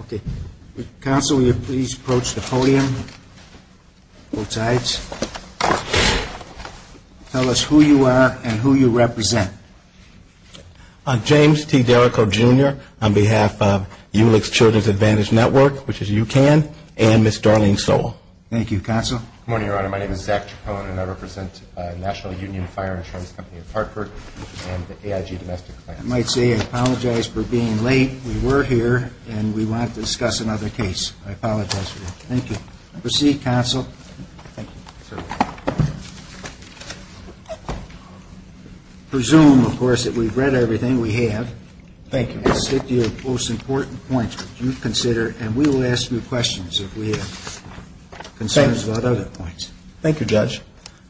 Okay. Counsel, will you please approach the podium, both sides. Tell us who you are and who you represent. James T. Derrico, Jr., on behalf of Ulich Children's Advantage Network, which is UCAN, and Ms. Darlene Sowell. Thank you, Counsel. Good morning, Your Honor. My name is Zach Chacon, and I represent National Union Fire Insurance Company of Hartford, and the AIG domestic client. I might say I apologize for being late. We were here, and we want to discuss another case. I apologize for that. Thank you. Proceed, Counsel. Thank you, sir. I presume, of course, that we've read everything we have. Thank you. I'll stick to your most important points that you've considered, and we will ask you questions if we have concerns about other points. Thank you, Judge.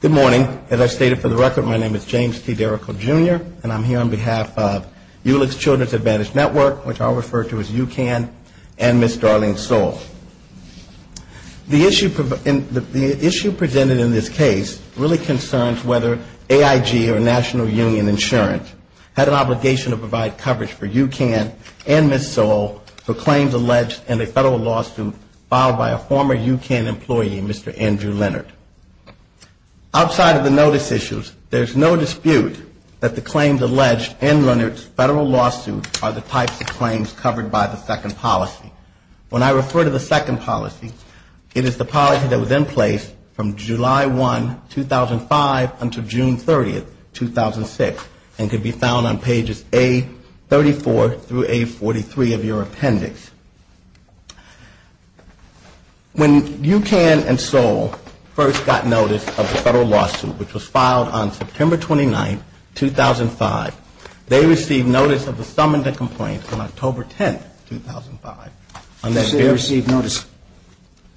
Good morning. As I stated for the record, my name is James T. Derrico, Jr., and I'm here on behalf of Ulich Children's Advantage Network, which I'll refer to as UCAN, and Ms. Darlene Sowell. The issue presented in this case really concerns whether AIG or National Union Insurance had an obligation to provide coverage for UCAN and Ms. Sowell for claims alleged in a federal lawsuit filed by a former UCAN employee, Mr. Andrew Leonard. Outside of the notice issues, there's no dispute that the claims alleged in Leonard's federal lawsuit are the types of claims covered by the second policy. When I refer to the second policy, it is the policy that was in place from July 1, 2005, until June 30, 2006, and can be found on pages A34 through A43 of your appendix. When UCAN and Sowell first got notice of the federal lawsuit, which was filed on September 29, 2005, they received notice of the summons and complaints on October 10, 2005. You said they received notice.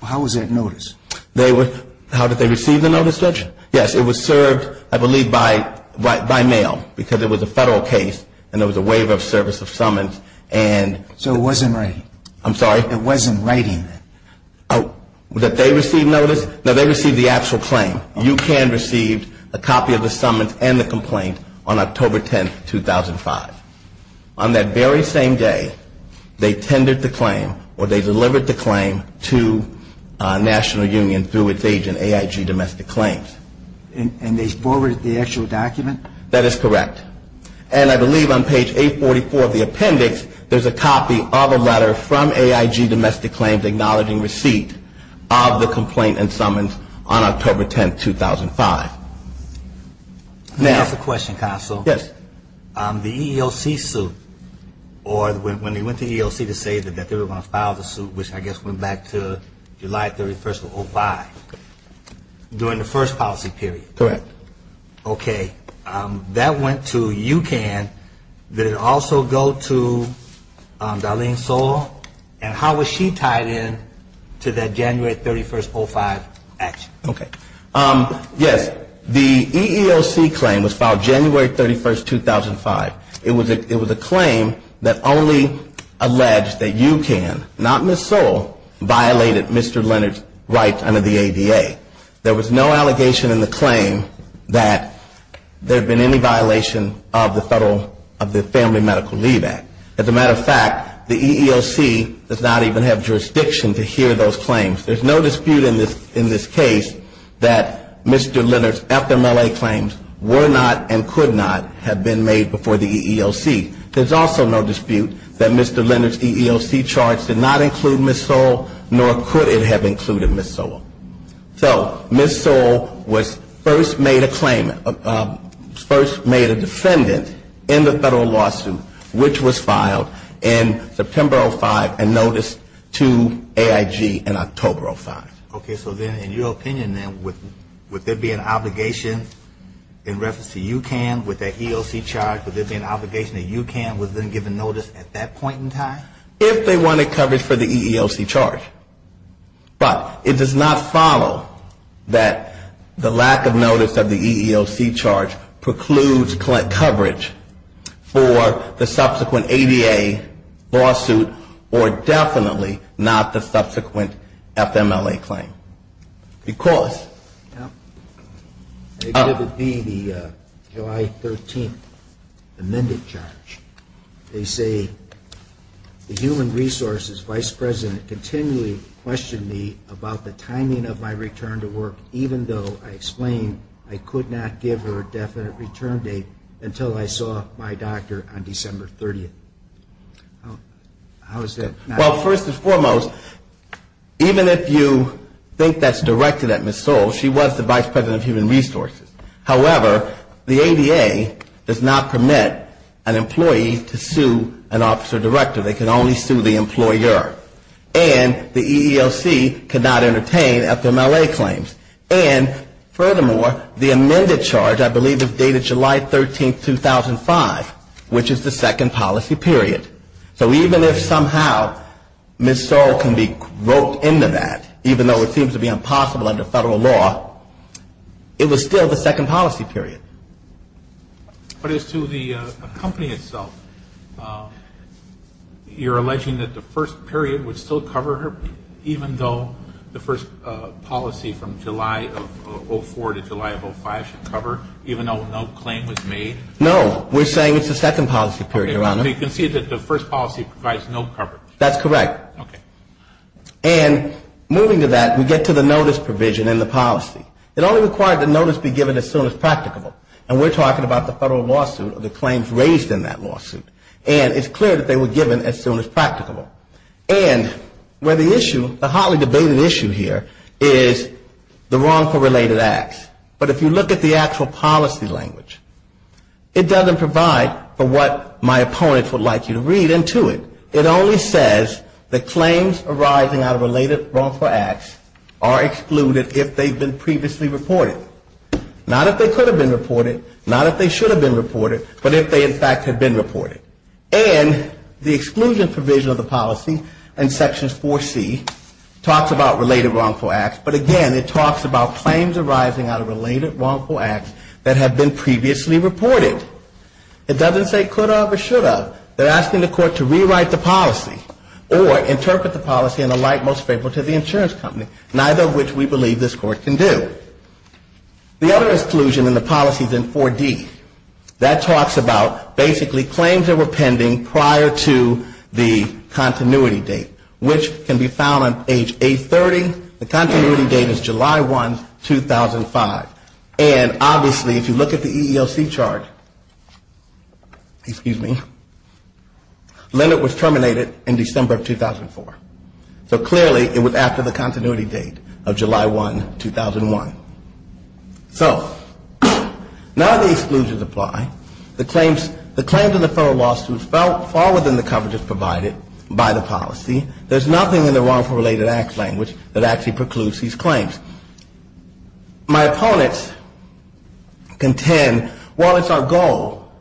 How was that notice? How did they receive the notice, Judge? Yes, it was served, I believe, by mail, because it was a federal case and there was a waiver of service of summons. So it wasn't writing? I'm sorry? It wasn't writing? That they received notice? No, they received the actual claim. UCAN received a copy of the summons and the complaint on October 10, 2005. On that very same day, they tendered the claim or they delivered the claim to National Union through its agent, AIG Domestic Claims. And they forwarded the actual document? That is correct. And I believe on page A44 of the appendix, there's a copy of a letter from AIG Domestic Claims acknowledging receipt of the complaint and summons on October 10, 2005. Can I ask a question, Counsel? Yes. The EEOC suit, or when they went to EEOC to say that they were going to file the suit, which I guess went back to July 31, 2005, during the 31st policy period? Correct. Okay. That went to UCAN. Did it also go to Darlene Sowell? And how was she tied in to that January 31, 2005 action? Okay. Yes. The EEOC claim was filed January 31, 2005. It was a claim that only alleged that UCAN, not Ms. Sowell, violated Mr. Leonard's rights under the ADA. There was no allegation in the claim that there had been any violation of the Federal, of the Family Medical Leave Act. As a matter of fact, the EEOC does not even have jurisdiction to hear those claims. There's no dispute in this case that Mr. Leonard's FMLA claims were not and could not have been made before the EEOC. There's also no dispute that Mr. Leonard's EEOC charge did not include Ms. Sowell, nor could it have included Ms. Sowell. So Ms. Sowell was first made a claim, first made a defendant in the Federal lawsuit, which was filed in September 2005 and noticed to AIG in October 2005. Okay. So then in your opinion, then, would there be an obligation in reference to UCAN with that EEOC charge? Would there be an obligation that UCAN was then given notice at that point in time? If they wanted coverage for the EEOC charge, but it does not follow that the lack of notice of the EEOC charge precludes coverage for the subsequent ADA lawsuit or definitely not the subsequent FMLA claim. Because... The human resources vice president continually questioned me about the timing of my return to work, even though I explained I could not give her a definite return date until I saw my doctor on December 30th. Well, first and foremost, even if you think that's directed at Ms. Sowell, she was the vice president of human resources. However, the ADA does not permit an employee to sue an officer director. They can only sue the employer. And the EEOC cannot entertain FMLA claims. And furthermore, the amended charge I believe is dated July 13th, 2005, which is the second policy period. So even if somehow Ms. Sowell can be roped into that, even though it seems to be impossible under Federal law, it was still the second policy period. But as to the company itself, you're alleging that the first period would still cover her, even though the first policy from July of 04 to July of 05 should cover, even though no claim was made? No. We're saying it's the second policy period, Your Honor. So you concede that the first policy provides no coverage? That's correct. And moving to that, we get to the notice provision in the policy. It only required the notice be given as soon as practicable. And we're talking about the Federal lawsuit or the claims raised in that lawsuit. And it's clear that they were given as soon as practicable. And where the issue, the hotly debated issue here is the wrongful related acts. But if you look at the actual policy language, it doesn't provide for what my opponents would like you to read into it. It only says that claims arising out of related wrongful acts are excluded if they've been previously reported. Not if they could have been reported, not if they should have been reported, but if they in fact had been reported. And the exclusion provision of the policy in Sections 4C talks about related wrongful acts, but again, it talks about claims arising out of related wrongful acts that have been previously reported. It doesn't say could have or should have. They're asking the Court to rewrite the policy or interpret the policy in a light most favorable to the insurance company, neither of which we believe this Court can do. The other exclusion in the policy is in 4D. That talks about basically claims that were pending prior to the continuity date, which can be found on page 830. The continuity date is July 1, 2005. And obviously if you look at the EEOC chart, excuse me, Leonard was terminated in December of 2004. So clearly it was after the continuity date of July 1, 2001. So now the exclusions apply. The claims in the federal lawsuit fall within the coverages provided by the policy. There's nothing in the wrongful related acts language that actually precludes these claims. My opponents contend, well, it's our goal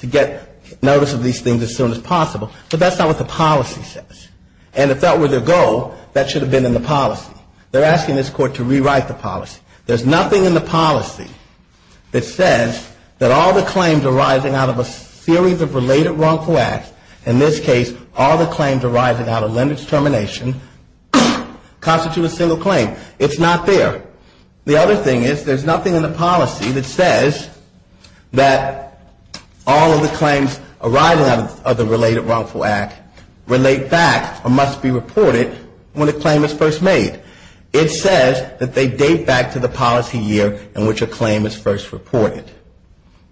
to get notice of these things as soon as possible, but that's not what the policy says. And if that were their goal, that should have been in the policy. They're asking this Court to rewrite the policy. There's nothing in the policy that says that all the claims arising out of a series of related wrongful acts, in this case, all the claims arising out of Leonard's termination constitute a single claim. It's not there. The other thing is there's nothing in the policy that says that all of the claims arising out of the related wrongful act relate back or must be reported when a claim is first made. It says that they date back to the policy year in which a claim is first reported.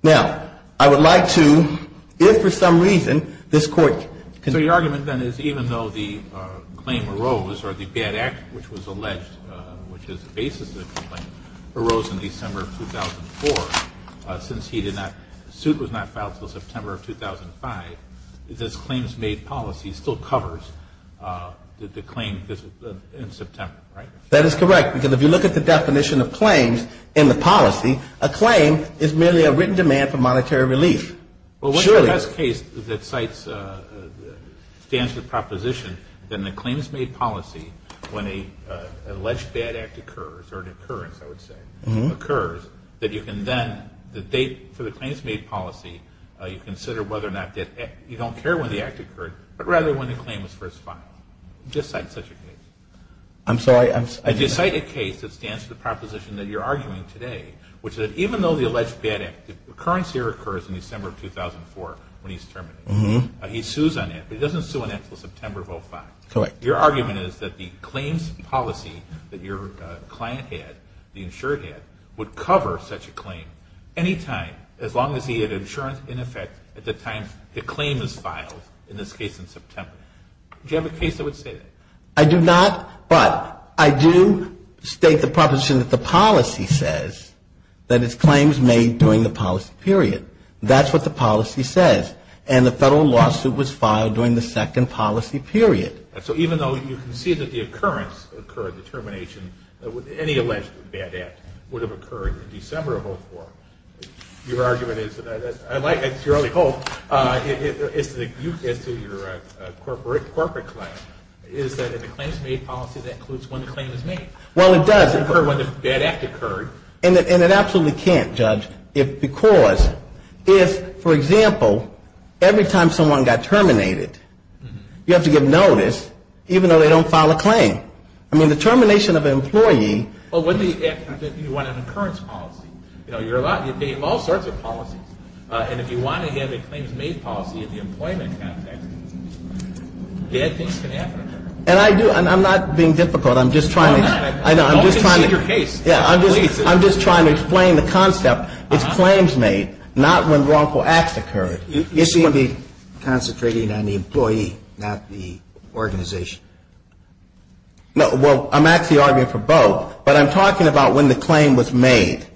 Now, I would like to, if for some reason this Court can... So your argument, then, is even though the claim arose or the bad act which was alleged, which is the basis of the claim, arose in December of 2004, since he did not, the suit was not filed until September of 2005, this claims made policy still covers the claim in September, right? That is correct. Because if you look at the definition of claims in the policy, a claim is merely a written demand for monetary relief. Surely. Well, what's the best case that cites, stands to the proposition that in the claims made policy, when an alleged bad act occurs, or an occurrence, I would say, occurs, that you can then, the date for the claims made policy, you consider whether or not that you don't care when the act occurred, but rather when the claim was first filed. Just cite such a case. I'm sorry, I'm... Just cite a case that stands to the proposition that you're arguing today, which is that even though the alleged bad act, the occurrence here occurs in December of 2004 when he's terminated. He sues on it, but he doesn't sue on it until September of 2005. Correct. Your argument is that the claims policy that your client had, the insured had, would cover such a claim anytime, as long as he had insurance in effect at the time the claim is filed, in this case in September. Do you have a case that would say that? I do not, but I do state the proposition that the policy says that it's claims made during the policy period. That's what the policy says. And the federal lawsuit was filed during the second policy period. So even though you can see that the occurrence occurred, the termination, any alleged bad act would have occurred in December of 2004. Your argument is, to your early hope, as to your corporate client, is that if a claim is made policy, that includes when the claim is made. Well, it does occur when the bad act occurred, and it absolutely can't, Judge, because if, for example, every time someone got terminated, you have to give notice, even though they don't file a claim. I mean, the termination of an employee Well, you want an occurrence policy. You have all sorts of policies. And if you want to have a claims made policy in the employment context, bad things can happen. And I do. I'm not being difficult. I'm just trying to I'm just trying to explain the concept. It's claims made, not when wrongful acts occurred. You seem to be concentrating on the employee, not the organization. No. Well, I'm actually arguing for both. But I'm talking about when the claim was made.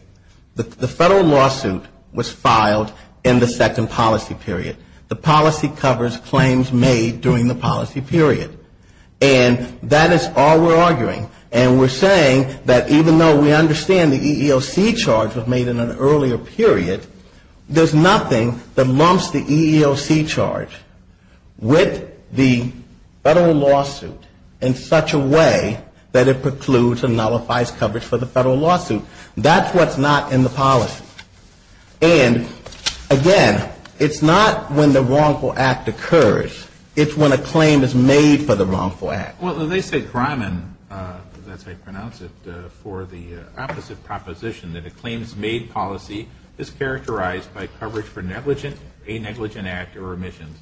The federal lawsuit was filed in the second policy period. The policy covers claims made during the policy period. And that is all we're arguing. And we're saying that even though we understand the EEOC charge was made in an earlier period, there's nothing that mumps the EEOC charge with the federal lawsuit in such a way that it precludes or nullifies coverage for the federal lawsuit. That's what's not in the policy. And, again, it's not when the wrongful act occurs. It's when a claim is made for the wrongful act. Well, they say Grimen, that's how you pronounce it, for the opposite proposition, that a claims made policy is characterized by coverage for a negligent act or remissions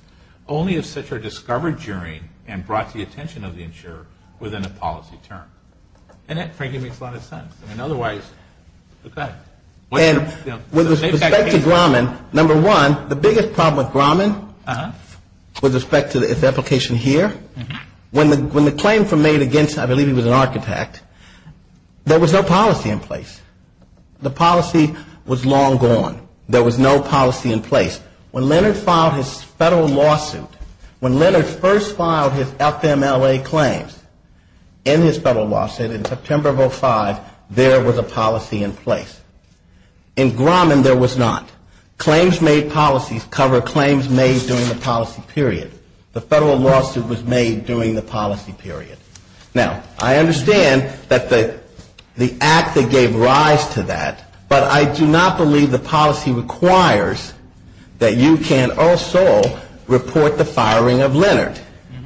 only if such are discovered during and brought to the attention of the insurer within a policy term. And that frankly makes a lot of sense. And otherwise, okay. With respect to Grimen, number one, the biggest problem with Grimen with respect to its application here, when the claim was made against, I believe he was an architect, there was no policy in place. The policy was long gone. There was no policy in place. When Leonard filed his federal lawsuit, when Leonard first filed his FMLA claims in his federal lawsuit in September of 2005, there was a policy in place. In Grimen there was not. Claims made policies cover claims made during the policy period. The federal lawsuit was made during the policy period. Now, I understand that the act that gave rise to that, but I do not believe the policy requires that you can also report the firing of Leonard.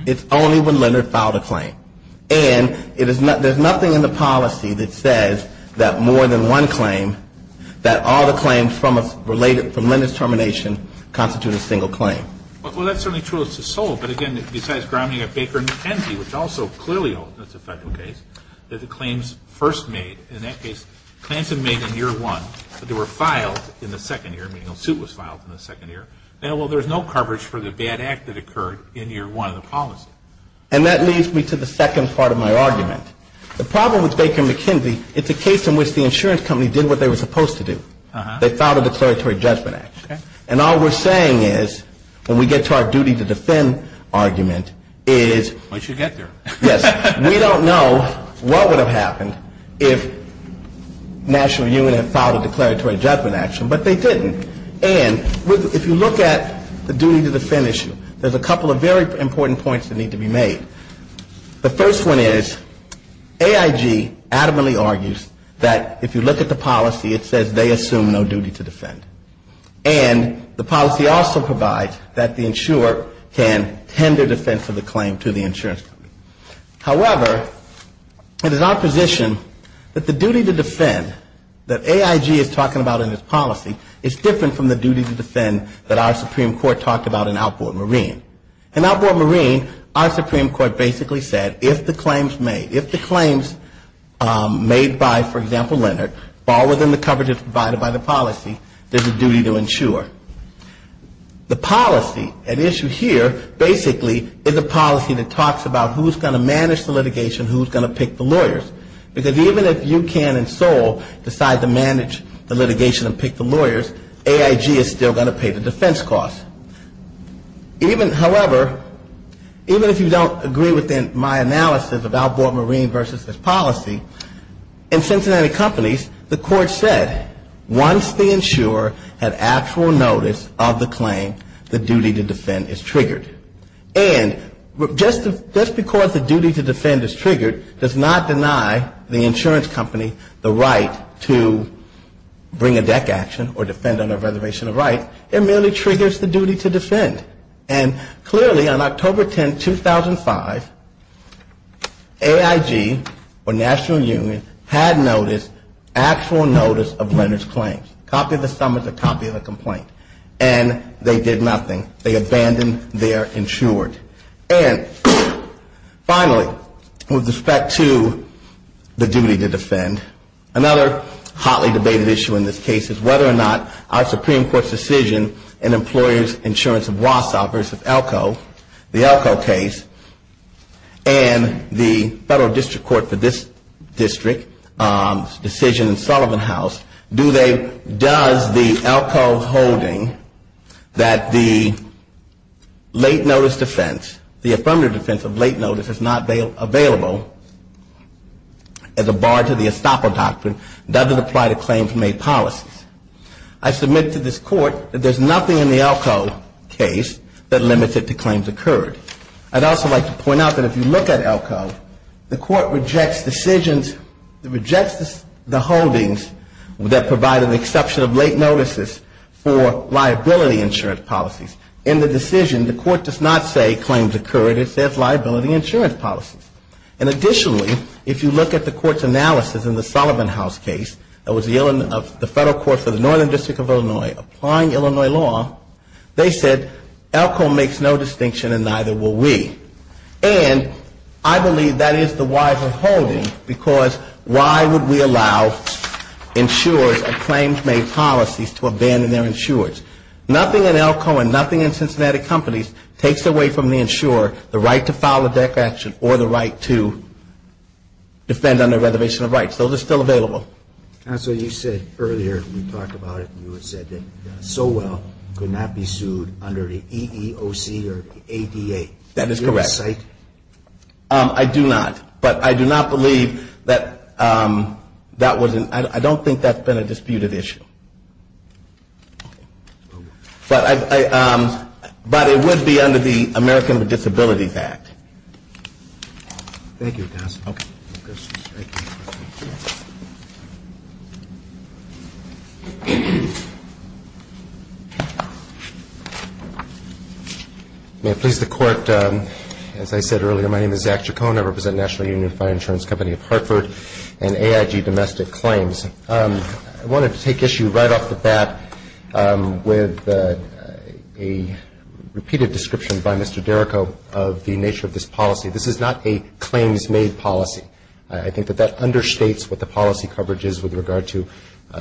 It's only when Leonard filed a claim. And there's nothing in the policy that says that more than one claim, that all the claims related from Leonard's termination constitute a single claim. Well, that's certainly true. It's a sole. But again, besides Grimen, you've got Baker & McKenzie, which also clearly holds that's a federal case, that the claims first made, in that case, claims made in year one, but they were filed in the second year, meaning a suit was filed in the second year. Now, well, there's no coverage for the bad act that occurred in year one of the policy. And that leads me to the second part of my argument. The problem with Baker & McKenzie, it's a case in which the insurance company did what they were supposed to do. They filed a declaratory judgment act. And all we're saying is, when we get to our duty to defend argument, is we don't know what would have happened if National Union had filed a declaratory judgment action, but they didn't. And if you look at the duty to defend issue, there's a couple of very important points that need to be made. The first one is AIG adamantly argues that if you look at the policy, it says they assume no duty to defend. And the policy also provides that the insurer can tender defense of the claim to the insurance company. However, it is our position that the duty to defend that AIG is talking about in its policy is different from the duty to defend that our Supreme Court talked about in outboard marine. In outboard marine, our Supreme Court basically said if the claims made, if the claims made by, for example, Leonard, fall within the coverage that's provided by the policy, there's a duty to insure. The policy, an issue here, basically is a policy that talks about who's going to manage the litigation, who's going to pick the lawyers. Because even if you can in Seoul decide to manage the litigation and pick the lawyers, AIG is still going to pay the defense costs. Even, however, even if you don't agree with my analysis of outboard marine versus its policy, in Cincinnati companies, the court said once the insurer had actual notice of the claim, the duty to defend is triggered. And just because the duty to defend is triggered does not deny the insurance company the right to bring a deck action or defend under Reservation of Rights. It merely triggers the duty to defend. And clearly on October 10, 2005, AIG or National Union had notice of the duty to defend. It's actual notice of Leonard's claims. Copy of the sum is a copy of the complaint. And they did nothing. They abandoned their insured. And finally, with respect to the duty to defend, another hotly debated issue in this case is whether or not our Supreme Court's decision in employers' insurance of Wausau versus Elko, the Elko case, and the federal district court for this district's decision in Sullivan House, do they, does the Elko holding that the late notice defense, the affirmative defense of late notice is not available as a bar to the estoppel doctrine, does it apply to claims made policies? I submit to this Court that there's nothing in the Elko case that limits it to claims occurred. I'd also like to point out that if you look at Elko, the Court rejects decisions, rejects the holdings that provide an exception of late notices for liability insurance policies. In the decision, the Court does not say claims occurred, it says liability insurance policies. And additionally, if you look at the Court's analysis in the Sullivan House case, that was the federal court for the northern district of Illinois applying Illinois law, they said Elko makes no distinction in either case. They said Elko makes no distinction in either case. And I believe that is the wiser holding, because why would we allow insurers of claims made policies to abandon their insurers? Nothing in Elko and nothing in Cincinnati companies takes away from the insurer the right to file a declaration or the right to defend under reservation of rights. Those are still available. Counsel, you said earlier, you talked about it, you said that Sowell could not be sued under the EEOC or the ADA. That is correct. I do not. But I do not believe that that was an ‑‑ I don't think that's been a disputed issue. But it would be under the American with Disabilities Act. Thank you, counsel. May it please the Court, as I said earlier, my name is Zach Chacon. I represent National Union Fire Insurance Company of Hartford and AIG Domestic Claims. I wanted to take issue right off the bat with a repeated description by Mr. Derrico of the nature of this policy. This is not a claims made policy. I think that that understates what the policy coverage is with regard to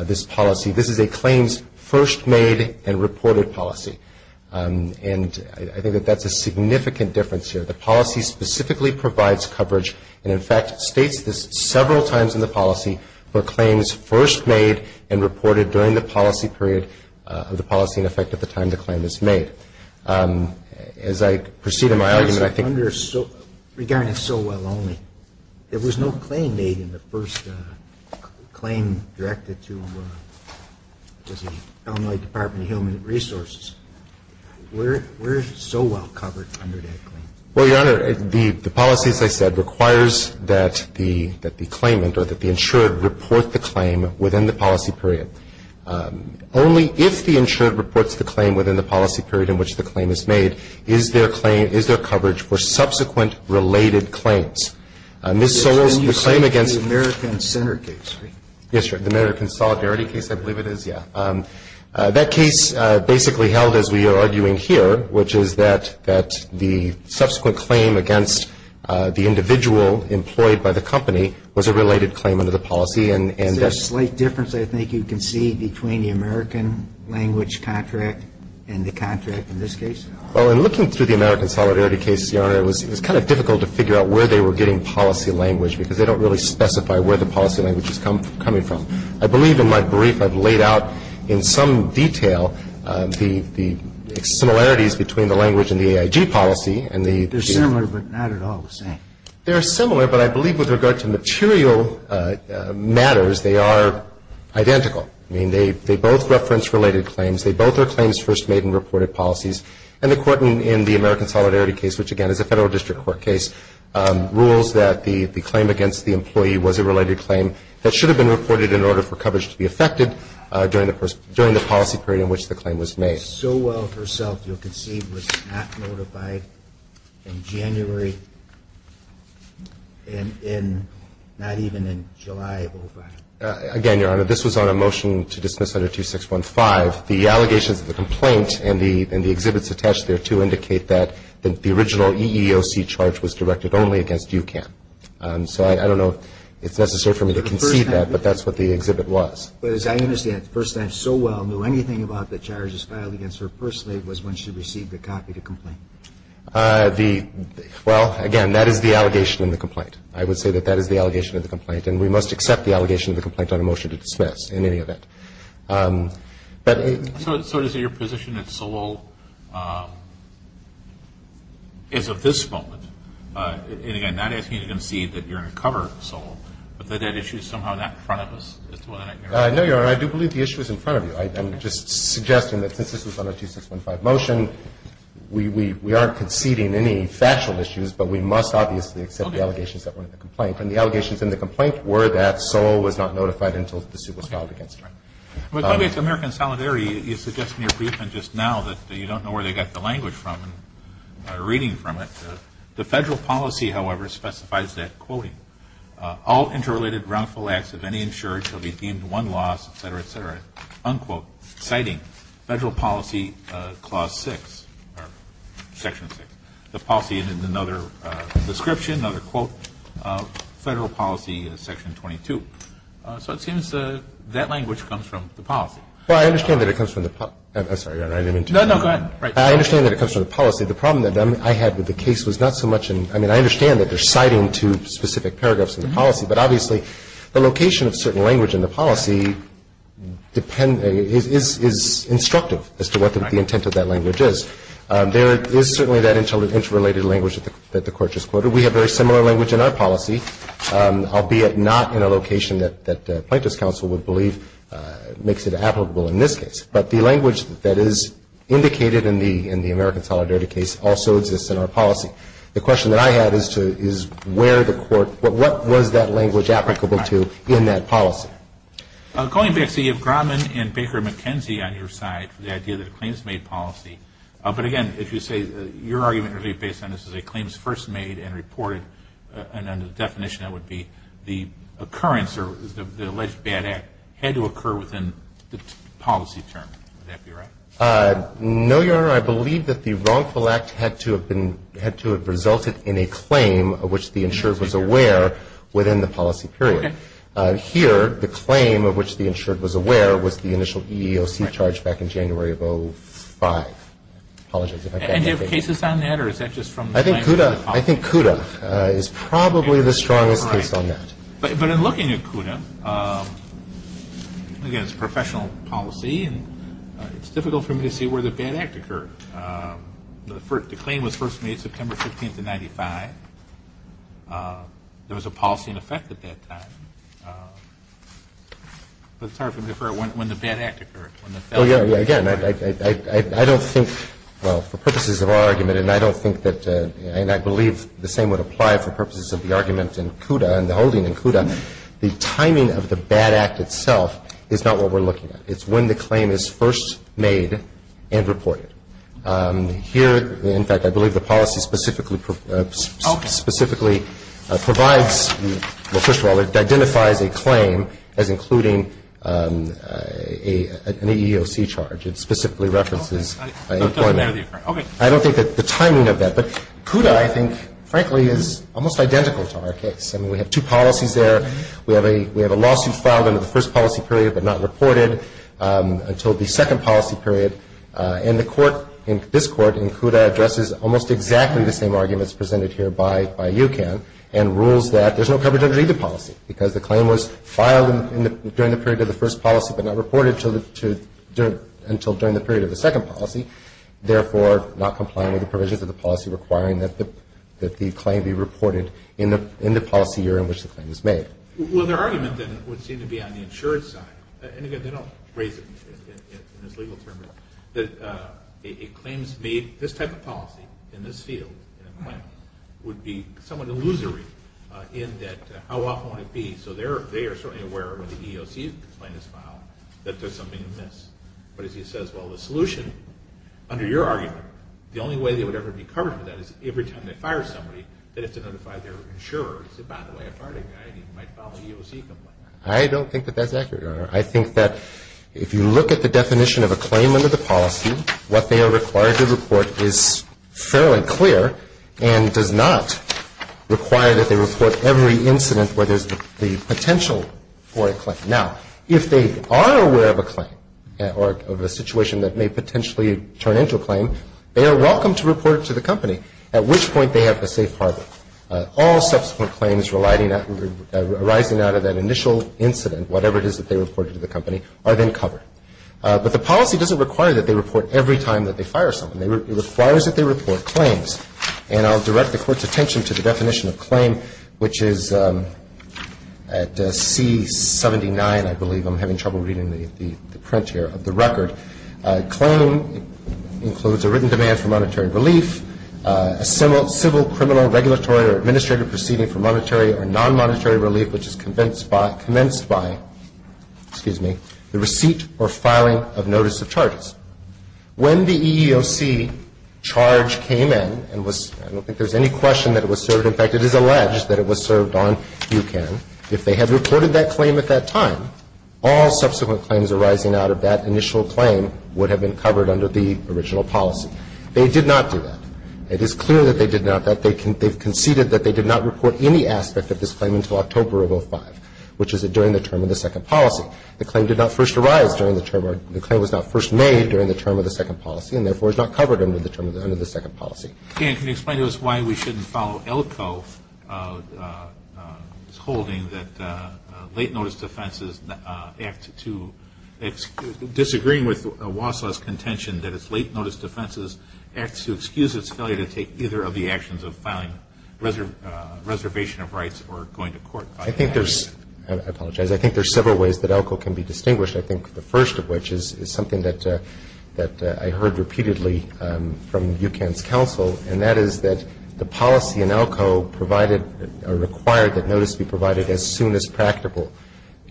this policy. This is a claims first made and reported policy. And I think that that's a significant difference here. The policy specifically provides coverage and in fact states this several times in the policy for claims first made and reported during the policy period of the policy in effect at the time the claim is made. As I proceed in my argument, I think ‑‑ Regarding so well only, there was no claim made in the first claim directed to the Illinois Department of Human Resources. Where is so well covered under that claim? Well, Your Honor, the policy, as I said, requires that the claimant or that the insured report the claim within the policy period. Only if the insured reports the claim within the policy period in which the claim is made is their claim, is their coverage for subsequent related claims. Ms. Solis, the claim against ‑‑ Yes, sir, the American Solidarity case, I believe it is, yeah. That case basically held as we are arguing here, which is that the subsequent claim against the individual employed by the company was a related claim under the policy. Is there a slight difference I think you can see between the American language contract and the contract in this case? Well, in looking through the American Solidarity case, Your Honor, it was kind of difficult to figure out where they were getting policy language because they don't really specify where the policy language is coming from. I believe in my brief I've laid out in some detail the similarities between the language and the AIG policy and the ‑‑ They're similar but not at all the same. They're similar but I believe with regard to material matters they are identical. I mean, they both reference related claims. They both are claims first made in reported policies. And the court in the American Solidarity case, which again is a Federal District Court case, rules that the claim against the employee was a related claim that should have been reported in order for coverage to be affected during the policy period in which the claim was made. First time so well herself, you'll concede, was not notified in January and not even in July of 2005. Again, Your Honor, this was on a motion to dismiss under 2615. The allegations of the complaint and the exhibits attached there to indicate that the original EEOC charge was directed only against UCAN. So I don't know if it's necessary for me to concede that but that's what the exhibit was. But as I understand, first time so well knew anything about the charges filed against her personally was when she received a copy of the complaint. Well, again, that is the allegation in the complaint. I would say that that is the allegation of the complaint and we must accept the allegation of the complaint on a motion to dismiss in any event. So is it your position that Solol is of this moment? And again, I'm not asking you to concede that you're going to cover Solol but that that issue is somehow not in front of us? No, Your Honor. I do believe the issue is in front of you. I'm just suggesting that since this was on a 2615 motion, we aren't conceding any factual issues but we must obviously accept the allegations that were in the complaint. And the allegations in the complaint were that Solol was not notified until the suit was filed against her. With regard to American Solidarity, you suggested in your brief just now that you don't know where they got the language from, reading from it. The Federal policy, however, specifies that, quoting, all interrelated wrongful acts of any insured shall be deemed one loss, et cetera, et cetera. Unquote. Citing Federal policy clause 6 or section 6. The policy is in another description, another quote. Federal policy section 22. So it seems that language comes from the policy. Well, I understand that it comes from the policy. I'm sorry, Your Honor, I didn't mean to. No, no, go ahead. I understand that it comes from the policy. The problem that I had with the case was not so much in, I mean, I understand that they're citing two specific paragraphs in the policy, but obviously the location of certain language in the policy depends, is instructive as to what the intent of that language is. There is certainly that interrelated language that the Court just quoted. We have very similar language in our policy, albeit not in a location that Plaintiff's counsel would believe makes it applicable in this case. But the language that is indicated in the American Solidarity case also exists in our policy. The question that I had is where the Court, what was that language applicable to in that policy? Going back to the Yevgromen and Baker-McKenzie on your side, the idea that a claim is made policy, but again, if you say your argument is really based on this is a claim is first made and reported, and under the definition that would be the occurrence or the alleged bad act had to occur within the policy term. Would that be right? No, Your Honor. I believe that the wrongful act had to have been, had to have resulted in a claim of which the insured was aware within the policy period. Okay. Here, the claim of which the insured was aware was the initial EEOC charge back in January of 05. Apologize if I got that wrong. I think CUDA is probably the strongest case on that. But in looking at CUDA, again, it's professional policy, and it's difficult for me to see where the bad act occurred. The claim was first made September 15th of 95. There was a policy in effect at that time. But it's hard for me to figure out when the bad act occurred. Again, I don't think, well, for purposes of our argument, and I don't think that, and I believe the same would apply for purposes of the argument in CUDA and the holding in CUDA, the timing of the bad act itself is not what we're looking at. It's when the claim is first made and reported. Here, in fact, I believe the policy specifically provides, well, first of all, it identifies a claim as including an EEOC charge. It specifically references employment. I don't think that the timing of that. But CUDA, I think, frankly, is almost identical to our case. I mean, we have two policies there. We have a lawsuit filed under the first policy period but not reported until the second policy period. And the court, this court in CUDA, addresses almost exactly the same arguments presented here by UCAN and rules that there's no coverage underneath the policy because the claim was filed during the period of the first policy but not reported until during the period of the second policy, therefore not compliant with the provisions of the policy requiring that the claim be reported in the policy year in which the claim is made. Well, their argument then would seem to be on the insurance side. And again, they don't raise it in this legal term. It claims to be this type of policy in this field would be somewhat illusory in that how often would it be? So they are certainly aware when the EEOC complaint is filed that there's something amiss. But as you said as well, the solution, under your argument, the only way they would ever be covered for that is every time they fire somebody, they have to notify their insurer and say, by the way, I fired a guy and he might file an EEOC complaint. I think that if you look at the definition of a claim under the policy, what they are required to report is fairly clear and does not require that they report every incident where there's the potential for a claim. Now, if they are aware of a claim or of a situation that may potentially turn into a claim, they are welcome to report it to the company, at which point they have a safe harbor. All subsequent claims arising out of that initial incident, whatever it is that they reported to the company, are then covered. But the policy doesn't require that they report every time that they fire someone. It requires that they report claims. And I'll direct the Court's attention to the definition of claim, which is at C-79, I believe. Claim includes a written demand for monetary relief, a civil, criminal, regulatory, or administrative proceeding for monetary or non-monetary relief, which is commenced by the receipt or filing of notice of charges. When the EEOC charge came in, and I don't think there's any question that it was served. In fact, it is alleged that it was served on UCAN. If they had reported that claim at that time, all subsequent claims arising out of that initial claim would have been covered under the original policy. They did not do that. It is clear that they did not, that they conceded that they did not report any aspect of this claim until October of 2005, which is during the term of the second policy. The claim did not first arise during the term, the claim was not first made during the term of the second policy, and therefore is not covered under the term of the second policy. Dan, can you explain to us why we shouldn't follow ELCO's holding that late notice defenses act to, disagreeing with WASA's contention that it's late notice defenses act to excuse its failure to take either of the actions of filing reservation of rights or going to court. I think there's, I apologize, I think there's several ways that ELCO can be distinguished. I think the first of which is something that I heard repeatedly from UCAN's counsel, and that is that the policy in ELCO provided or required that notice be provided as soon as practical.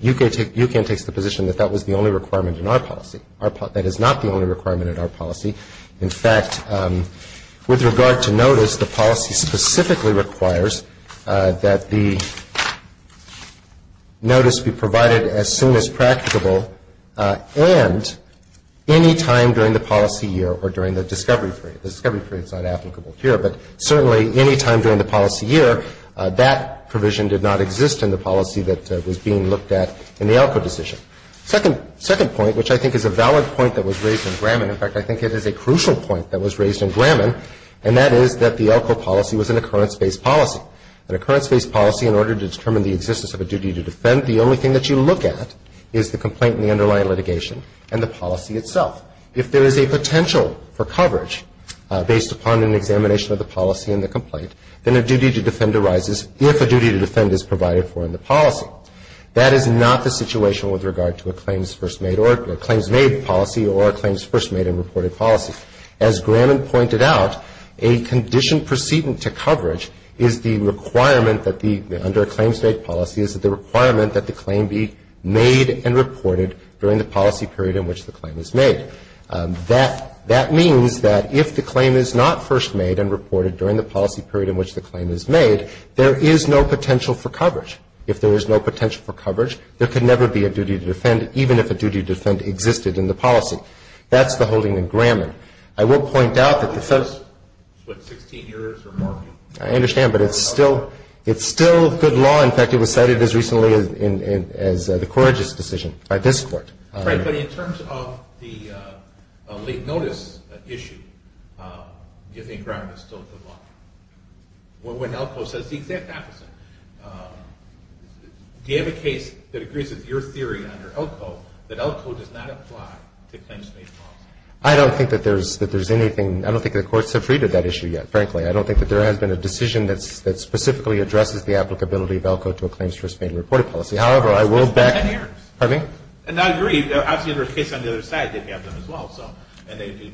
UCAN takes the position that that was the only requirement in our policy. That is not the only requirement in our policy. In fact, with regard to notice, the policy specifically requires that the notice be provided as soon as practicable and any time during the policy year or during the discovery period. The discovery period is not applicable here, but certainly any time during the policy year, that provision did not exist in the policy that was being looked at in the ELCO decision. Second point, which I think is a valid point that was raised in Graman, in fact, I think it is a crucial point that was raised in Graman, and that is that the ELCO policy was an occurrence-based policy. An occurrence-based policy, in order to determine the existence of a duty to defend, the only thing that you look at is the complaint and the underlying litigation and the policy itself. If there is a potential for coverage based upon an examination of the policy and the complaint, then a duty to defend arises if a duty to defend is provided for in the policy. That is not the situation with regard to a claims-made policy or a claims-first made and reported policy. As Graman pointed out, a condition proceeding to coverage is the requirement that the under a claims-made policy is the requirement that the claim be made and reported during the policy period in which the claim is made. That means that if the claim is not first made and reported during the policy period in which the claim is made, there is no potential for coverage. If there is no potential for coverage, there could never be a duty to defend, even if a duty to defend existed in the policy. That's the holding in Graman. I will point out that the first, what, 16 years or more? I understand, but it's still good law. In fact, it was cited as recently as the Corrigis decision by this Court. Right, but in terms of the late notice issue, do you think Graman is still good law? When Elko says the exact opposite, do you have a case that agrees with your theory under Elko that Elko does not apply to claims-made policy? I don't think that there's anything. I don't think the courts have read that issue yet, frankly. I don't think that there has been a decision that specifically addresses the applicability of Elko to a claims-first made and reported policy. However, I will back. Pardon me? And I agree. Obviously, there are cases on the other side that have them as well, and they do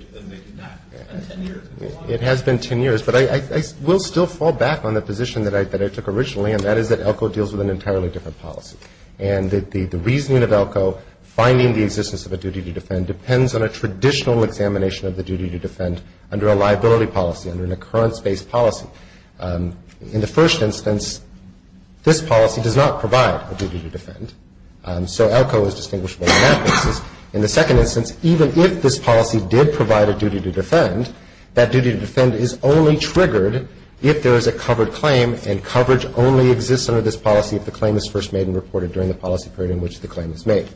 not. It's been 10 years. It has been 10 years, but I will still fall back on the position that I took originally, and that is that Elko deals with an entirely different policy. And the reasoning of Elko, finding the existence of a duty to defend, depends on a traditional examination of the duty to defend under a liability policy, under an occurrence-based policy. In the first instance, this policy does not provide a duty to defend, so Elko is distinguishable on that basis. In the second instance, even if this policy did provide a duty to defend, that duty to defend is only triggered if there is a covered claim, and coverage only exists under this policy if the claim is first made and reported during the policy period in which the claim is made.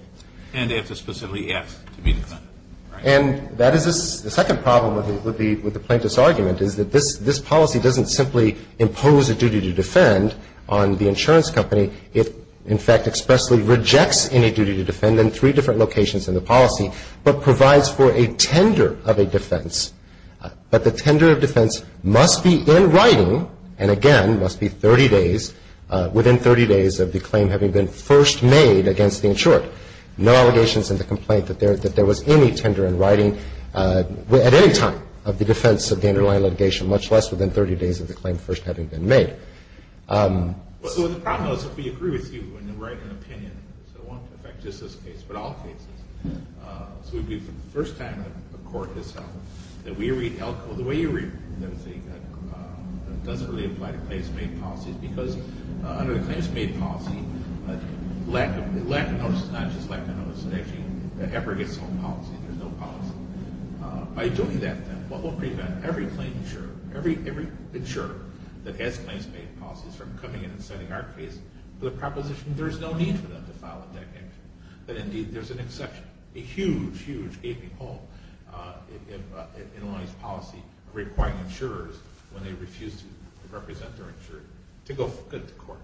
And if it's specifically asked to be defended. And that is the second problem with the plaintiff's argument, is that this policy doesn't simply impose a duty to defend on the insurance company. It, in fact, expressly rejects any duty to defend in three different locations in the policy, but provides for a tender of a defense. But the tender of defense must be in writing, and again, must be 30 days, within 30 days of the claim having been first made against the insured. No allegations in the complaint that there was any tender in writing at any time of the defense of the underlying litigation, much less within 30 days of the claim first having been made. So the problem is if we agree with you and then write an opinion, it won't affect just this case, but all cases. So it would be for the first time in the court itself that we read ELCO the way you read it, that it doesn't really apply to claims made policies, because under the claims made policy, lack of notice is not just lack of notice. It actually never gets on policy. There's no policy. By doing that, then, what will prevent every claim insured, every insured that has claims made policies from coming in and setting our case for the proposition there's no need for them to file a debt claim. But, indeed, there's an exception, a huge, huge gaping hole in Illinois' policy requiring insurers, when they refuse to represent their insured, to go look at the court.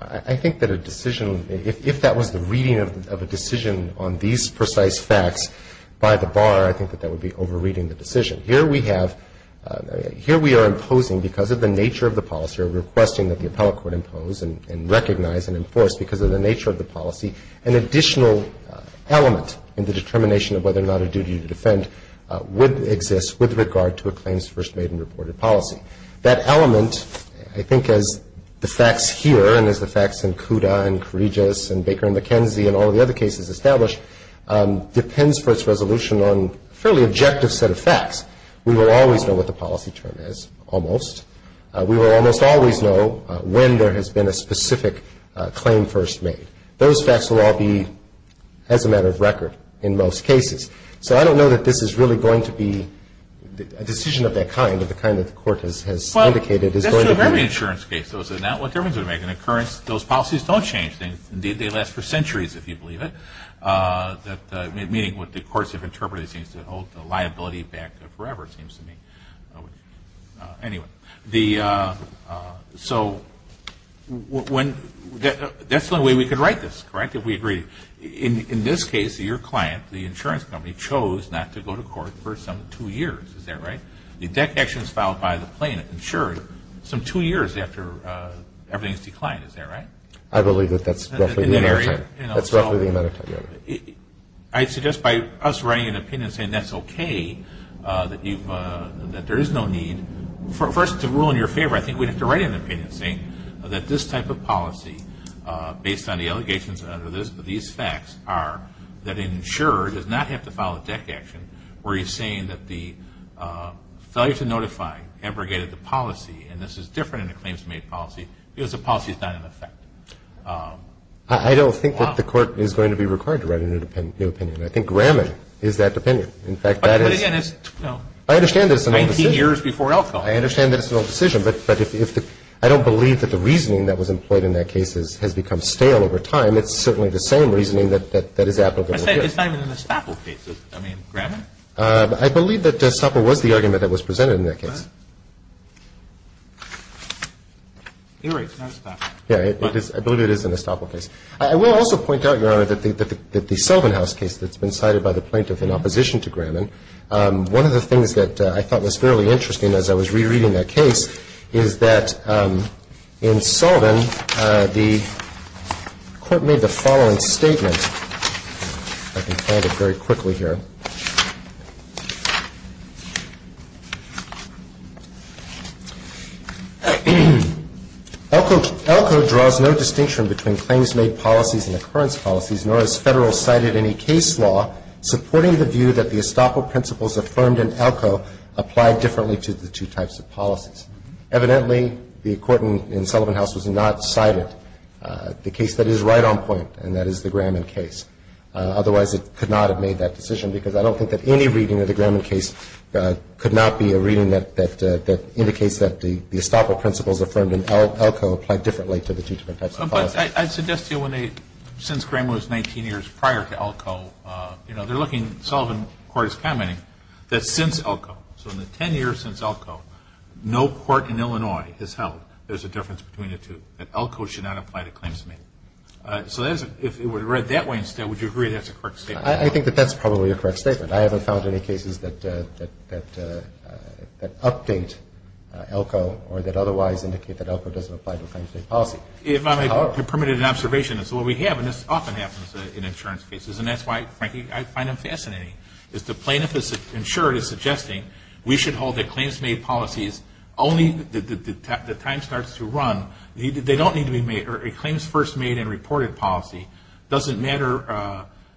I think that a decision, if that was the reading of a decision on these precise facts, by the bar, I think that that would be over-reading the decision. Here we have, here we are imposing, because of the nature of the policy, we're requesting that the appellate court impose and recognize and enforce, because of the nature of the policy, an additional element in the determination of whether or not a duty to defend would exist with regard to a claims first made and reported policy. That element, I think, as the facts here, and as the facts in CUDA and Corrigis and Baker and McKenzie and all the other cases established, depends for its resolution on a fairly objective set of facts. We will always know what the policy term is, almost. We will almost always know when there has been a specific claim first made. Those facts will all be as a matter of record in most cases. So I don't know that this is really going to be a decision of that kind, of the kind that the court has indicated is going to be. Well, that's true of every insurance case. Those policies don't change. Indeed, they last for centuries, if you believe it, meaning what the courts have interpreted seems to hold the liability back forever, it seems to me. Anyway, so that's the only way we could write this, correct, if we agree. In this case, your client, the insurance company, chose not to go to court for some two years. Is that right? That connection is filed by the plaintiff, insured, some two years after everything has declined. Is that right? I believe that that's roughly the amount of time. That's roughly the amount of time, yes. I suggest by us writing an opinion and saying that's okay, that there is no need. First, to rule in your favor, I think we'd have to write an opinion saying that this type of policy, based on the allegations under these facts, are that an insurer does not have to file a deck action where he's saying that the failure to notify abrogated the policy, and this is different in a claims-made policy, because the policy is not in effect. I don't think that the court is going to be required to write a new opinion. I think Graman is that opinion. In fact, that is 19 years before Elko. I understand that it's an old decision, but I don't believe that the reasoning that was employed in that case has become stale over time. It's certainly the same reasoning that is applicable here. It's not even in the Staple case. I mean, Graman? I believe that Staple was the argument that was presented in that case. I believe it is in the Staple case. I will also point out, Your Honor, that the Sullivan House case that's been cited by the plaintiff in opposition to Graman, one of the things that I thought was fairly interesting as I was rereading that case is that in Sullivan, the court made the following statement. I can find it very quickly here. Elko draws no distinction between claims-made policies and occurrence policies, nor has Federal cited any case law supporting the view that the estoppel principles affirmed in Elko apply differently to the two types of policies. Evidently, the court in Sullivan House has not cited the case that is right on point, and that is the Graman case. Otherwise, it could not have made that decision, because I don't think that any reading of the Graman case could not be a reading that indicates that the estoppel principles affirmed in Elko apply differently to the two different types of policies. I suggest to you, since Graman was 19 years prior to Elko, they're looking, Sullivan Court is commenting, that since Elko, so in the 10 years since Elko, no court in Illinois has held there's a difference between the two, that Elko should not apply to claims-made. So if it were read that way instead, would you agree that's a correct statement? I think that that's probably a correct statement. I haven't found any cases that update Elko or that otherwise indicate that Elko doesn't apply to claims-made policy. If I may, a permitted observation is what we have, and this often happens in insurance cases, and that's why, frankly, I find them fascinating, is the plaintiff's insurer is suggesting we should hold that claims-made policies, only the time starts to run, they don't need to be made, or a claims-first-made-and-reported policy doesn't matter,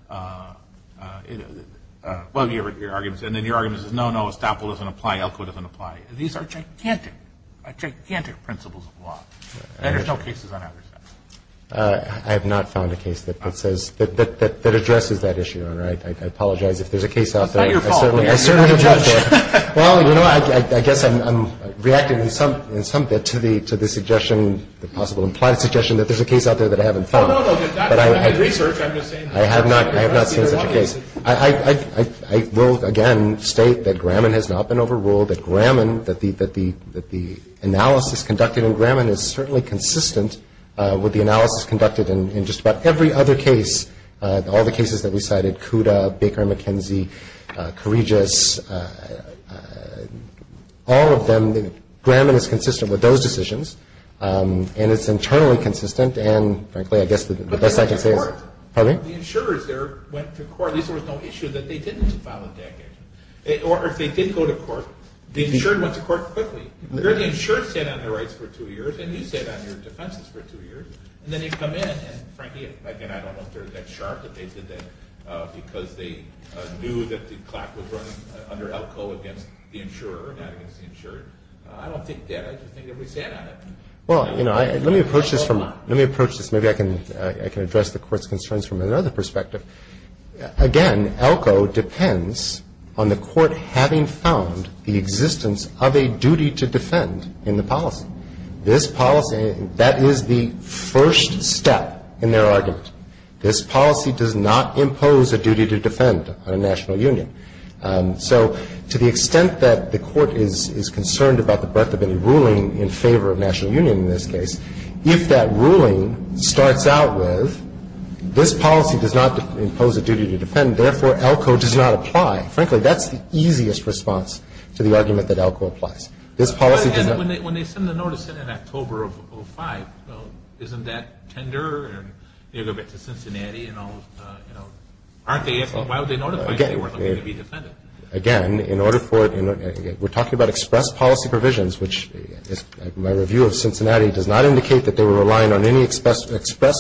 and then your argument is no, no, Estoppel doesn't apply, Elko doesn't apply. These are gigantic, gigantic principles of law, and there's no cases on either side. I have not found a case that addresses that issue, Your Honor. I apologize if there's a case out there. It's not your fault. Well, you know, I guess I'm reacting in some bit to the suggestion, the possible implied suggestion that there's a case out there that I haven't found. No, no, no. In research, I'm just saying. I have not seen such a case. I will, again, state that Graman has not been overruled, that the analysis conducted in Graman is certainly consistent with the analysis conducted in just about every other case, all the cases that we cited, Cuda, Baker and McKenzie, Kourigas, all of them, Graman is consistent with those decisions, and it's internally consistent, and frankly, I guess the best I can say is. But they went to court. Pardon me? The insurers there went to court. At least there was no issue that they didn't file a decade. Or if they did go to court, the insurer went to court quickly. The insurer sat on their rights for two years, and you sat on your defenses for two years, and then you come in, and frankly, again, I don't know if they're that sharp, but they did that because they knew that the clock was running under Elko against the insurer and not against the insurer. I don't think that. I just think everybody sat on it. Well, you know, let me approach this from the, let me approach this. Maybe I can address the Court's concerns from another perspective. Again, Elko depends on the Court having found the existence of a duty to defend in the policy. This policy, that is the first step in their argument. This policy does not impose a duty to defend on a national union. So to the extent that the Court is concerned about the breadth of any ruling in favor of national union in this case, if that ruling starts out with this policy does not impose a duty to defend, therefore Elko does not apply. Frankly, that's the easiest response to the argument that Elko applies. This policy does not. But the notice said in October of 2005. Well, isn't that tender and you go back to Cincinnati and all, you know, aren't they asking, why would they notify if they weren't looking to be defended? Again, in order for, we're talking about express policy provisions, which my review of Cincinnati does not indicate that they were relying on any express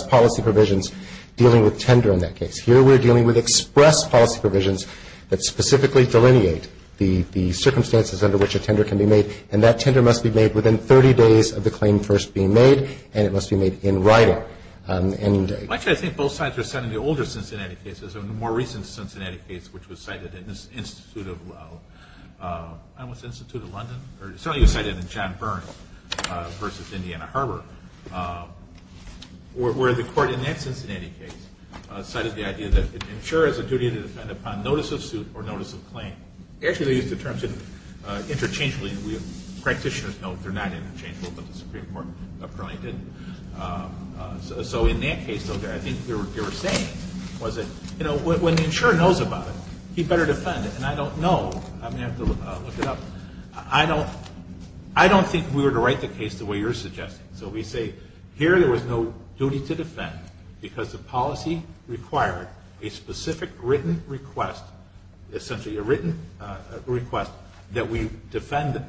policy provisions dealing with tender in that case. Here we're dealing with express policy provisions that specifically delineate the circumstances under which a tender can be made. And that tender must be made within 30 days of the claim first being made. And it must be made in writing. Actually, I think both sides are citing the older Cincinnati case. There's a more recent Cincinnati case which was cited in the Institute of, I don't know, what's the Institute of London? Certainly it was cited in John Burns v. Indiana Harbor, where the Court in that Cincinnati case cited the idea that it ensures a duty to defend upon notice of suit or notice of claim. Actually, they used the terms interchangeably. Practitioners know they're not interchangeable, but the Supreme Court apparently didn't. So in that case, I think what they were saying was that, you know, when the insurer knows about it, he better defend it. And I don't know. I may have to look it up. I don't think we were to write the case the way you're suggesting. So we say here there was no duty to defend because the policy required a specific written request, essentially a written request that we defend them.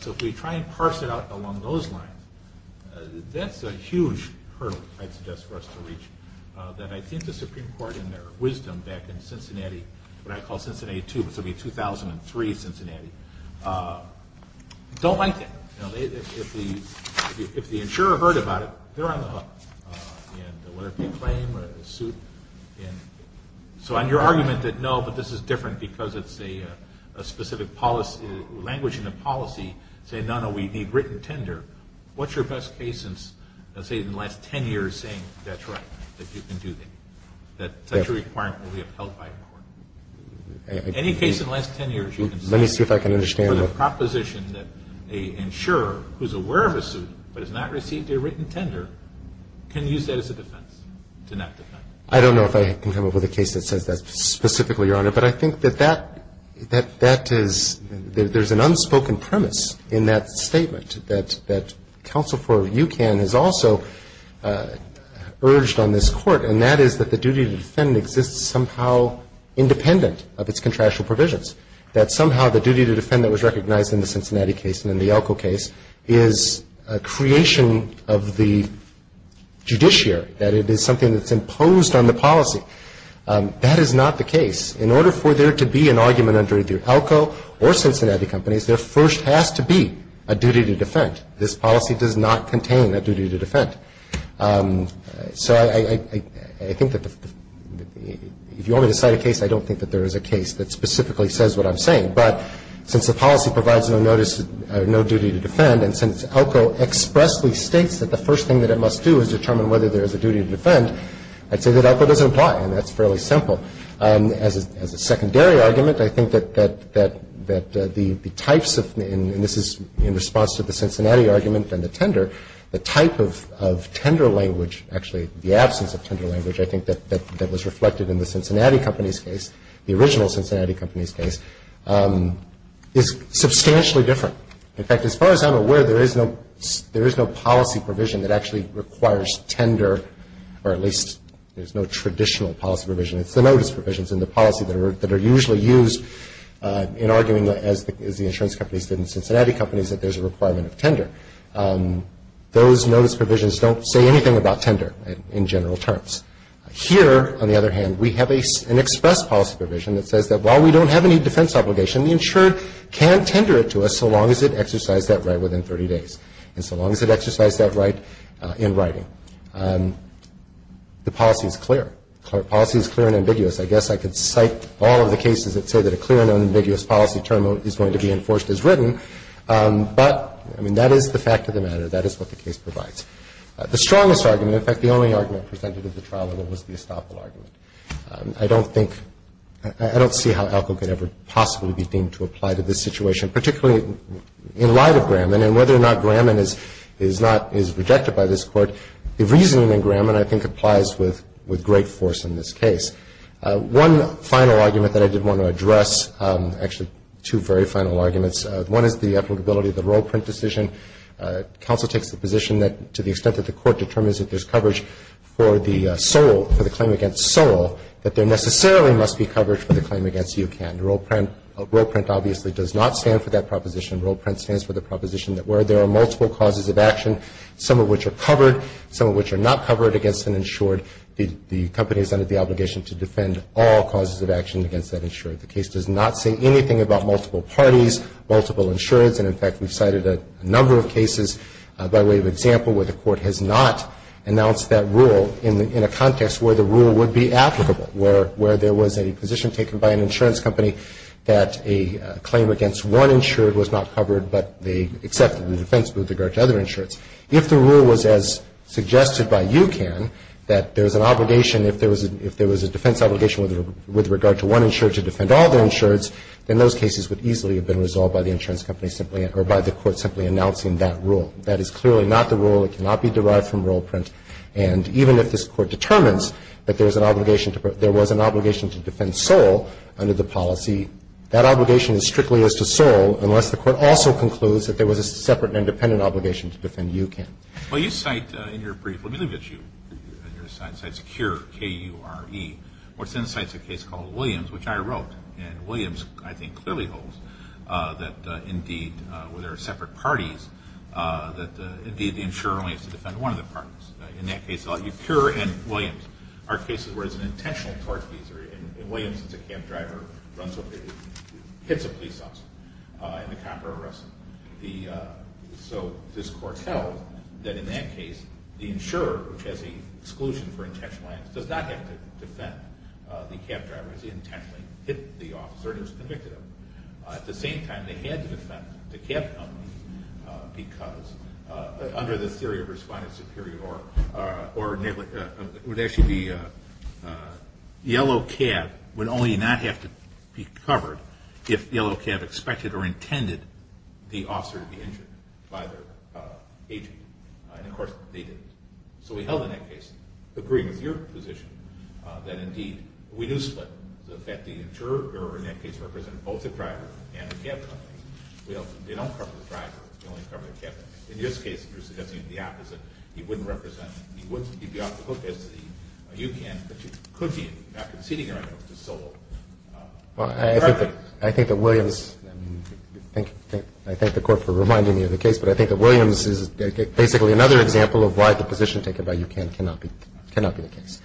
So if we try and parse it out along those lines, that's a huge hurdle I'd suggest for us to reach, that I think the Supreme Court in their wisdom back in Cincinnati, what I call Cincinnati II, which will be 2003 Cincinnati, don't like that. You know, if the insurer heard about it, they're on the hook. And whether it be a claim or a suit. So on your argument that, no, but this is different because it's a specific language in the policy, saying, no, no, we need written tender, what's your best case in, say, in the last ten years saying that's right, that you can do that, that such a requirement will be upheld by a court? Any case in the last ten years you can say. Let me see if I can understand. So the proposition that an insurer who's aware of a suit but has not received a written tender can use that as a defense to not defend. I don't know if I can come up with a case that says that specifically, Your Honor, but I think that that is, there's an unspoken premise in that statement that counsel for UCAN has also urged on this Court, and that is that the duty to defend exists somehow independent of its contractual provisions. That somehow the duty to defend that was recognized in the Cincinnati case and in the Elko case is a creation of the judiciary, that it is something that's imposed on the policy. That is not the case. In order for there to be an argument under either Elko or Cincinnati companies, there first has to be a duty to defend. This policy does not contain a duty to defend. So I think that if you only decide a case, I don't think that there is a case that specifically says what I'm saying. But since the policy provides no notice, no duty to defend, and since Elko expressly states that the first thing that it must do is determine whether there is a duty to defend, I'd say that Elko doesn't apply, and that's fairly simple. As a secondary argument, I think that the types of, and this is in response to the Cincinnati argument and the tender, the type of tender language, actually the absence of tender language, I think that was reflected in the Cincinnati company's case, the original Cincinnati company's case, is substantially different. In fact, as far as I'm aware, there is no policy provision that actually requires tender, or at least there's no traditional policy provision. It's the notice provisions in the policy that are usually used in arguing, as the insurance companies did and Cincinnati companies, that there's a requirement of tender. Those notice provisions don't say anything about tender in general terms. Here, on the other hand, we have an express policy provision that says that while we don't have any defense obligation, the insured can tender it to us so long as it exercised that right within 30 days, and so long as it exercised that right in writing. The policy is clear. The policy is clear and ambiguous. I guess I could cite all of the cases that say that a clear and unambiguous policy term is going to be enforced as written, but, I mean, that is the fact of the matter. That is what the case provides. The strongest argument, in fact, the only argument presented at the trial level was the Estoppel argument. I don't think, I don't see how ALCO could ever possibly be deemed to apply to this situation, particularly in light of Graman, and whether or not Graman is rejected by this Court. The reasoning in Graman, I think, applies with great force in this case. One final argument that I did want to address, actually two very final arguments, one is the applicability of the Role Print decision. Counsel takes the position that to the extent that the Court determines that there's coverage for the SOLE, for the claim against SOLE, that there necessarily must be coverage for the claim against UCAN. Role Print obviously does not stand for that proposition. Role Print stands for the proposition that where there are multiple causes of action, some of which are covered, some of which are not covered against an insured, the company is under the obligation to defend all causes of action against that insured. The case does not say anything about multiple parties, multiple insureds, and in fact, we've cited a number of cases by way of example where the Court has not announced that rule in a context where the rule would be applicable, where there was a position taken by an insurance company that a claim against one insured was not covered, but they accepted the defense with regard to other insureds. If the rule was as suggested by UCAN, that there's an obligation, if there was a defense obligation with regard to one insured to defend all the insureds, then those cases would easily have been resolved by the insurance company simply or by the Court simply announcing that rule. That is clearly not the rule. It cannot be derived from Role Print. And even if this Court determines that there was an obligation to defend SOLE under the policy, that obligation is strictly as to SOLE unless the Court also concludes that there was a separate and independent obligation to defend UCAN. Well, you cite in your brief, let me look at you, you cite CURE, K-U-R-E. What's in the site is a case called Williams, which I wrote, and Williams, I think, clearly holds that indeed, where there are separate parties, that indeed the insurer only has to defend one of the parties. In that case, CURE and Williams are cases where it's an intentional torture, and Williams is a camp driver, runs over, hits a police officer, and the cop foretells that in that case, the insurer, which has the exclusion for intentional violence, does not have to defend the camp driver. He's intentionally hit the officer and has convicted him. At the same time, they had to defend the camp company because under the theory of respondent superior or negligent, it would actually be yellow cab would only not have to be covered if yellow cab expected or intended the officer to be injured by their agent, and of course, they didn't. So we held in that case, agreeing with your position, that indeed we do split, that the insurer in that case represented both the driver and the camp company. They don't cover the driver. They only cover the camp company. In this case, the opposite. He wouldn't represent, he wouldn't keep you off the hook as you can, but you could be not conceding a right to solo. Well, I think that Williams, I thank the Court for reminding me of the case, but I think that Williams is basically another example of why the position taken by you cannot be the case.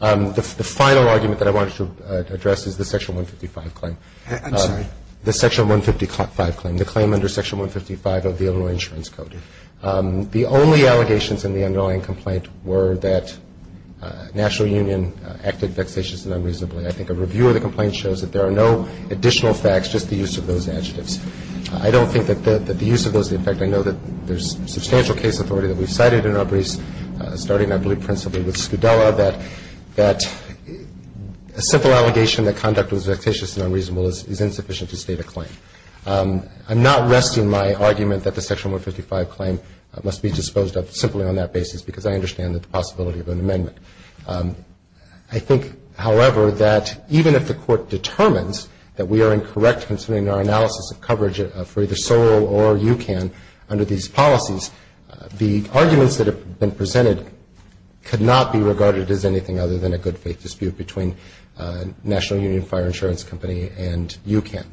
The final argument that I wanted to address is the Section 155 claim. I'm sorry. The Section 155 claim, the claim under Section 155 of the Illinois Insurance Code. The only allegations in the underlying complaint were that National Union acted vexatiously and unreasonably. I think a review of the complaint shows that there are no additional facts, just the use of those adjectives. I don't think that the use of those, in fact, I know that there's substantial case authority that we've cited in our briefs, starting, I believe, principally with Scudella, that a simple allegation that conduct was vexatious and unreasonable is insufficient to state a claim. I'm not resting my argument that the Section 155 claim must be disposed of simply on that basis, because I understand the possibility of an amendment. I think, however, that even if the Court determines that we are incorrect in submitting our analysis of coverage for either SOL or UCAN under these policies, the arguments that have been presented could not be regarded as anything other than a good faith dispute between National Union Fire Insurance Company and UCAN.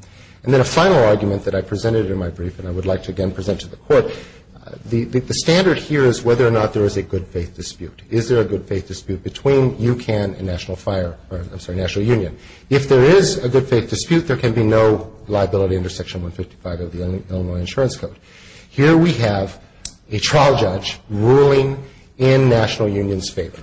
And then a final argument that I presented in my brief, and I would like to again present to the Court, the standard here is whether or not there is a good faith dispute. Is there a good faith dispute between UCAN and National Union? If there is a good faith dispute, there can be no liability under Section 155 of the Illinois Insurance Code. Here we have a trial judge ruling in National Union's favor,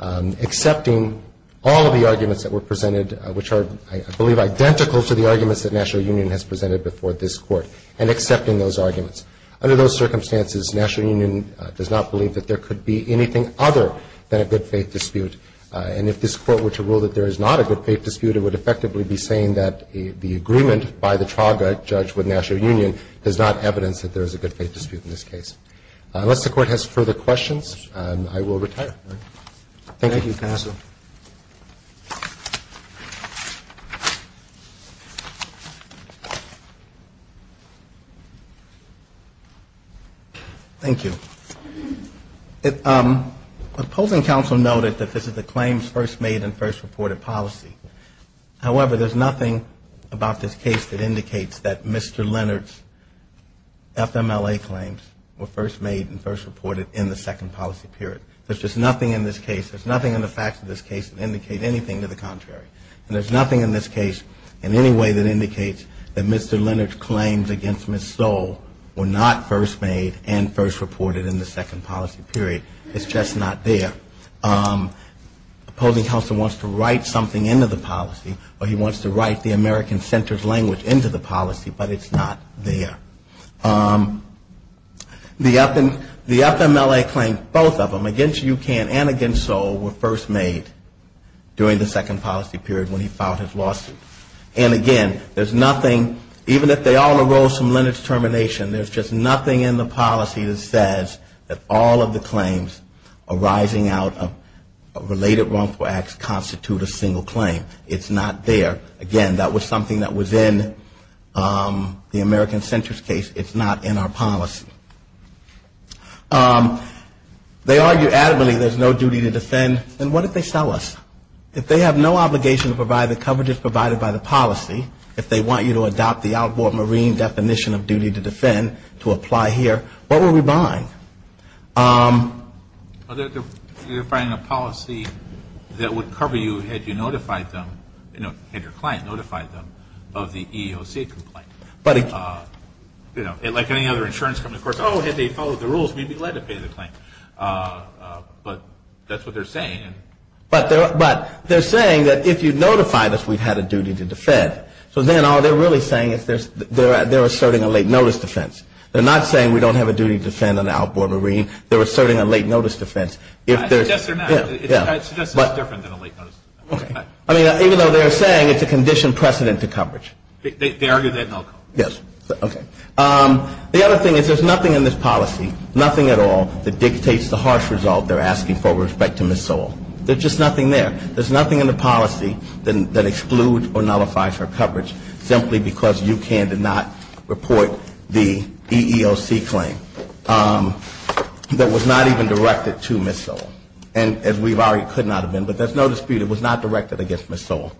accepting all of the arguments that were presented, which are, I believe, identical to the arguments that National Union has presented before this Court, and accepting those arguments. Under those circumstances, National Union does not believe that there could be anything other than a good faith dispute. And if this Court were to rule that there is not a good faith dispute, it would effectively be saying that the agreement by the trial judge with National Union does not evidence that there is a good faith dispute in this case. Unless the Court has further questions, I will retire. Thank you. Thank you, counsel. Thank you. Opposing counsel noted that this is a claims first made and first reported policy. However, there is nothing about this case that indicates that Mr. Leonard's FMLA claims were first made and first reported in the second policy period. There is just nothing in this case, there is nothing in the facts of this case that indicate anything to the contrary. And there is nothing in this case in any way that indicates that Mr. Leonard's claims against Ms. Stoll were not first made and first reported in the second policy period. It's just not there. Opposing counsel wants to write something into the policy, or he wants to write the American Center's language into the policy, but it's not there. The FMLA claim, both of them, against UCANN and against Stoll were first made during the second policy period when he filed his lawsuit. And again, there's nothing, even if they all arose from Leonard's termination, there's just nothing in the policy that says that all of the claims arising out of related wrongful acts constitute a single claim. It's not there. Again, that was something that was in the American Center's case. It's not in our policy. They argue adamantly there's no duty to defend, and what if they sell us? If they have no obligation to provide the coverages provided by the policy, if they want you to adopt the outboard marine definition of duty to defend, to apply here, what will we bind? You're defining a policy that would cover you had you notified them, you know, had your client notified them of the EEOC complaint. But, you know, like any other insurance company, of course, oh, had they followed the rules, we'd be glad to pay the claim. But that's what they're saying. But they're saying that if you notified us, we'd have a duty to defend. So then all they're really saying is they're asserting a late notice defense. They're not saying we don't have a duty to defend on the outboard marine. They're asserting a late notice defense. I suggest they're not. I suggest it's different than a late notice defense. Okay. I mean, even though they're saying it's a conditioned precedent to coverage. They argue they have no coverage. Yes. Okay. The other thing is there's nothing in this policy, nothing at all, that dictates the harsh result they're asking for with respect to Ms. Sewell. There's just nothing there. There's nothing in the policy that excludes or nullifies her coverage simply because UCAN did not report the EEOC claim that was not even directed to Ms. Sewell. And as we've argued, could not have been, but there's no dispute it was not directed against Ms. Sewell.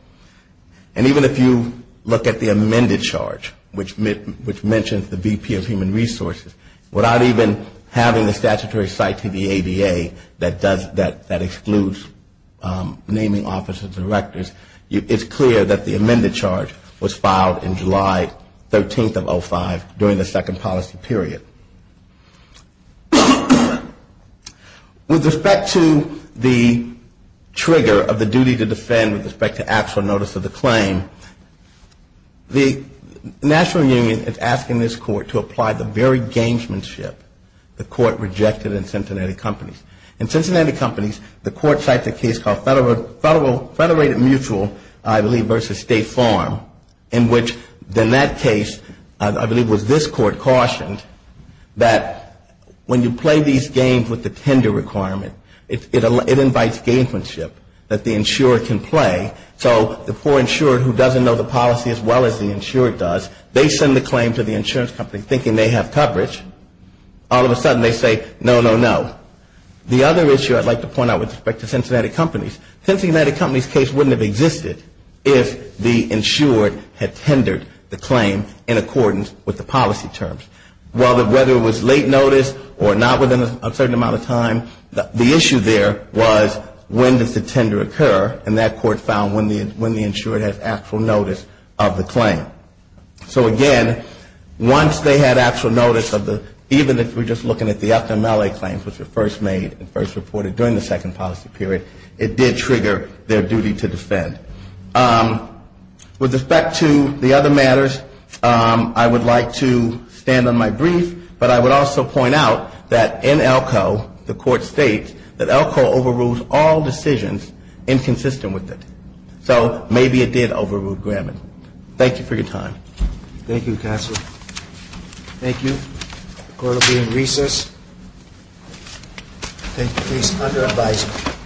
And even if you look at the amended charge, which mentions the VP of Human Resources, without even having the statutory site to the ADA that excludes naming officers and directors, it's clear that the amended charge was filed in July 13th of 05 during the second policy period. With respect to the trigger of the duty to defend with respect to actual notice of the claim, the National Union is asking this court to apply the very gamesmanship the court rejected in Cincinnati Companies. In Cincinnati Companies, the court cites a case called Federated Mutual, I believe, versus State Farm, in which in that case, I believe it was this court cautioned, that when you play these games with the tender requirement, it invites gamesmanship that the insurer can play. So the poor insurer who doesn't know the policy as well as the insurer does, they send the claim to the insurance company thinking they have coverage. All of a sudden they say, no, no, no. The other issue I'd like to point out with respect to Cincinnati Companies, Cincinnati Companies' case wouldn't have existed if the insurer had tendered the claim in accordance with the policy terms. Whether it was late notice or not within a certain amount of time, the issue there was when does the tender occur, and that court found when the insurer has actual notice of the claim. So again, once they had actual notice of the, even if we're just looking at the FMLA claims, which were first made and first reported during the second policy period, it did trigger their duty to defend. With respect to the other matters, I would like to stand on my brief, but I would also point out that in Elko, the court states that Elko overrules all decisions inconsistent with it. So maybe it did overrule Graman. Thank you for your time. Thank you, counsel. Thank you. The court will be in recess. Thank you. Case under advisement.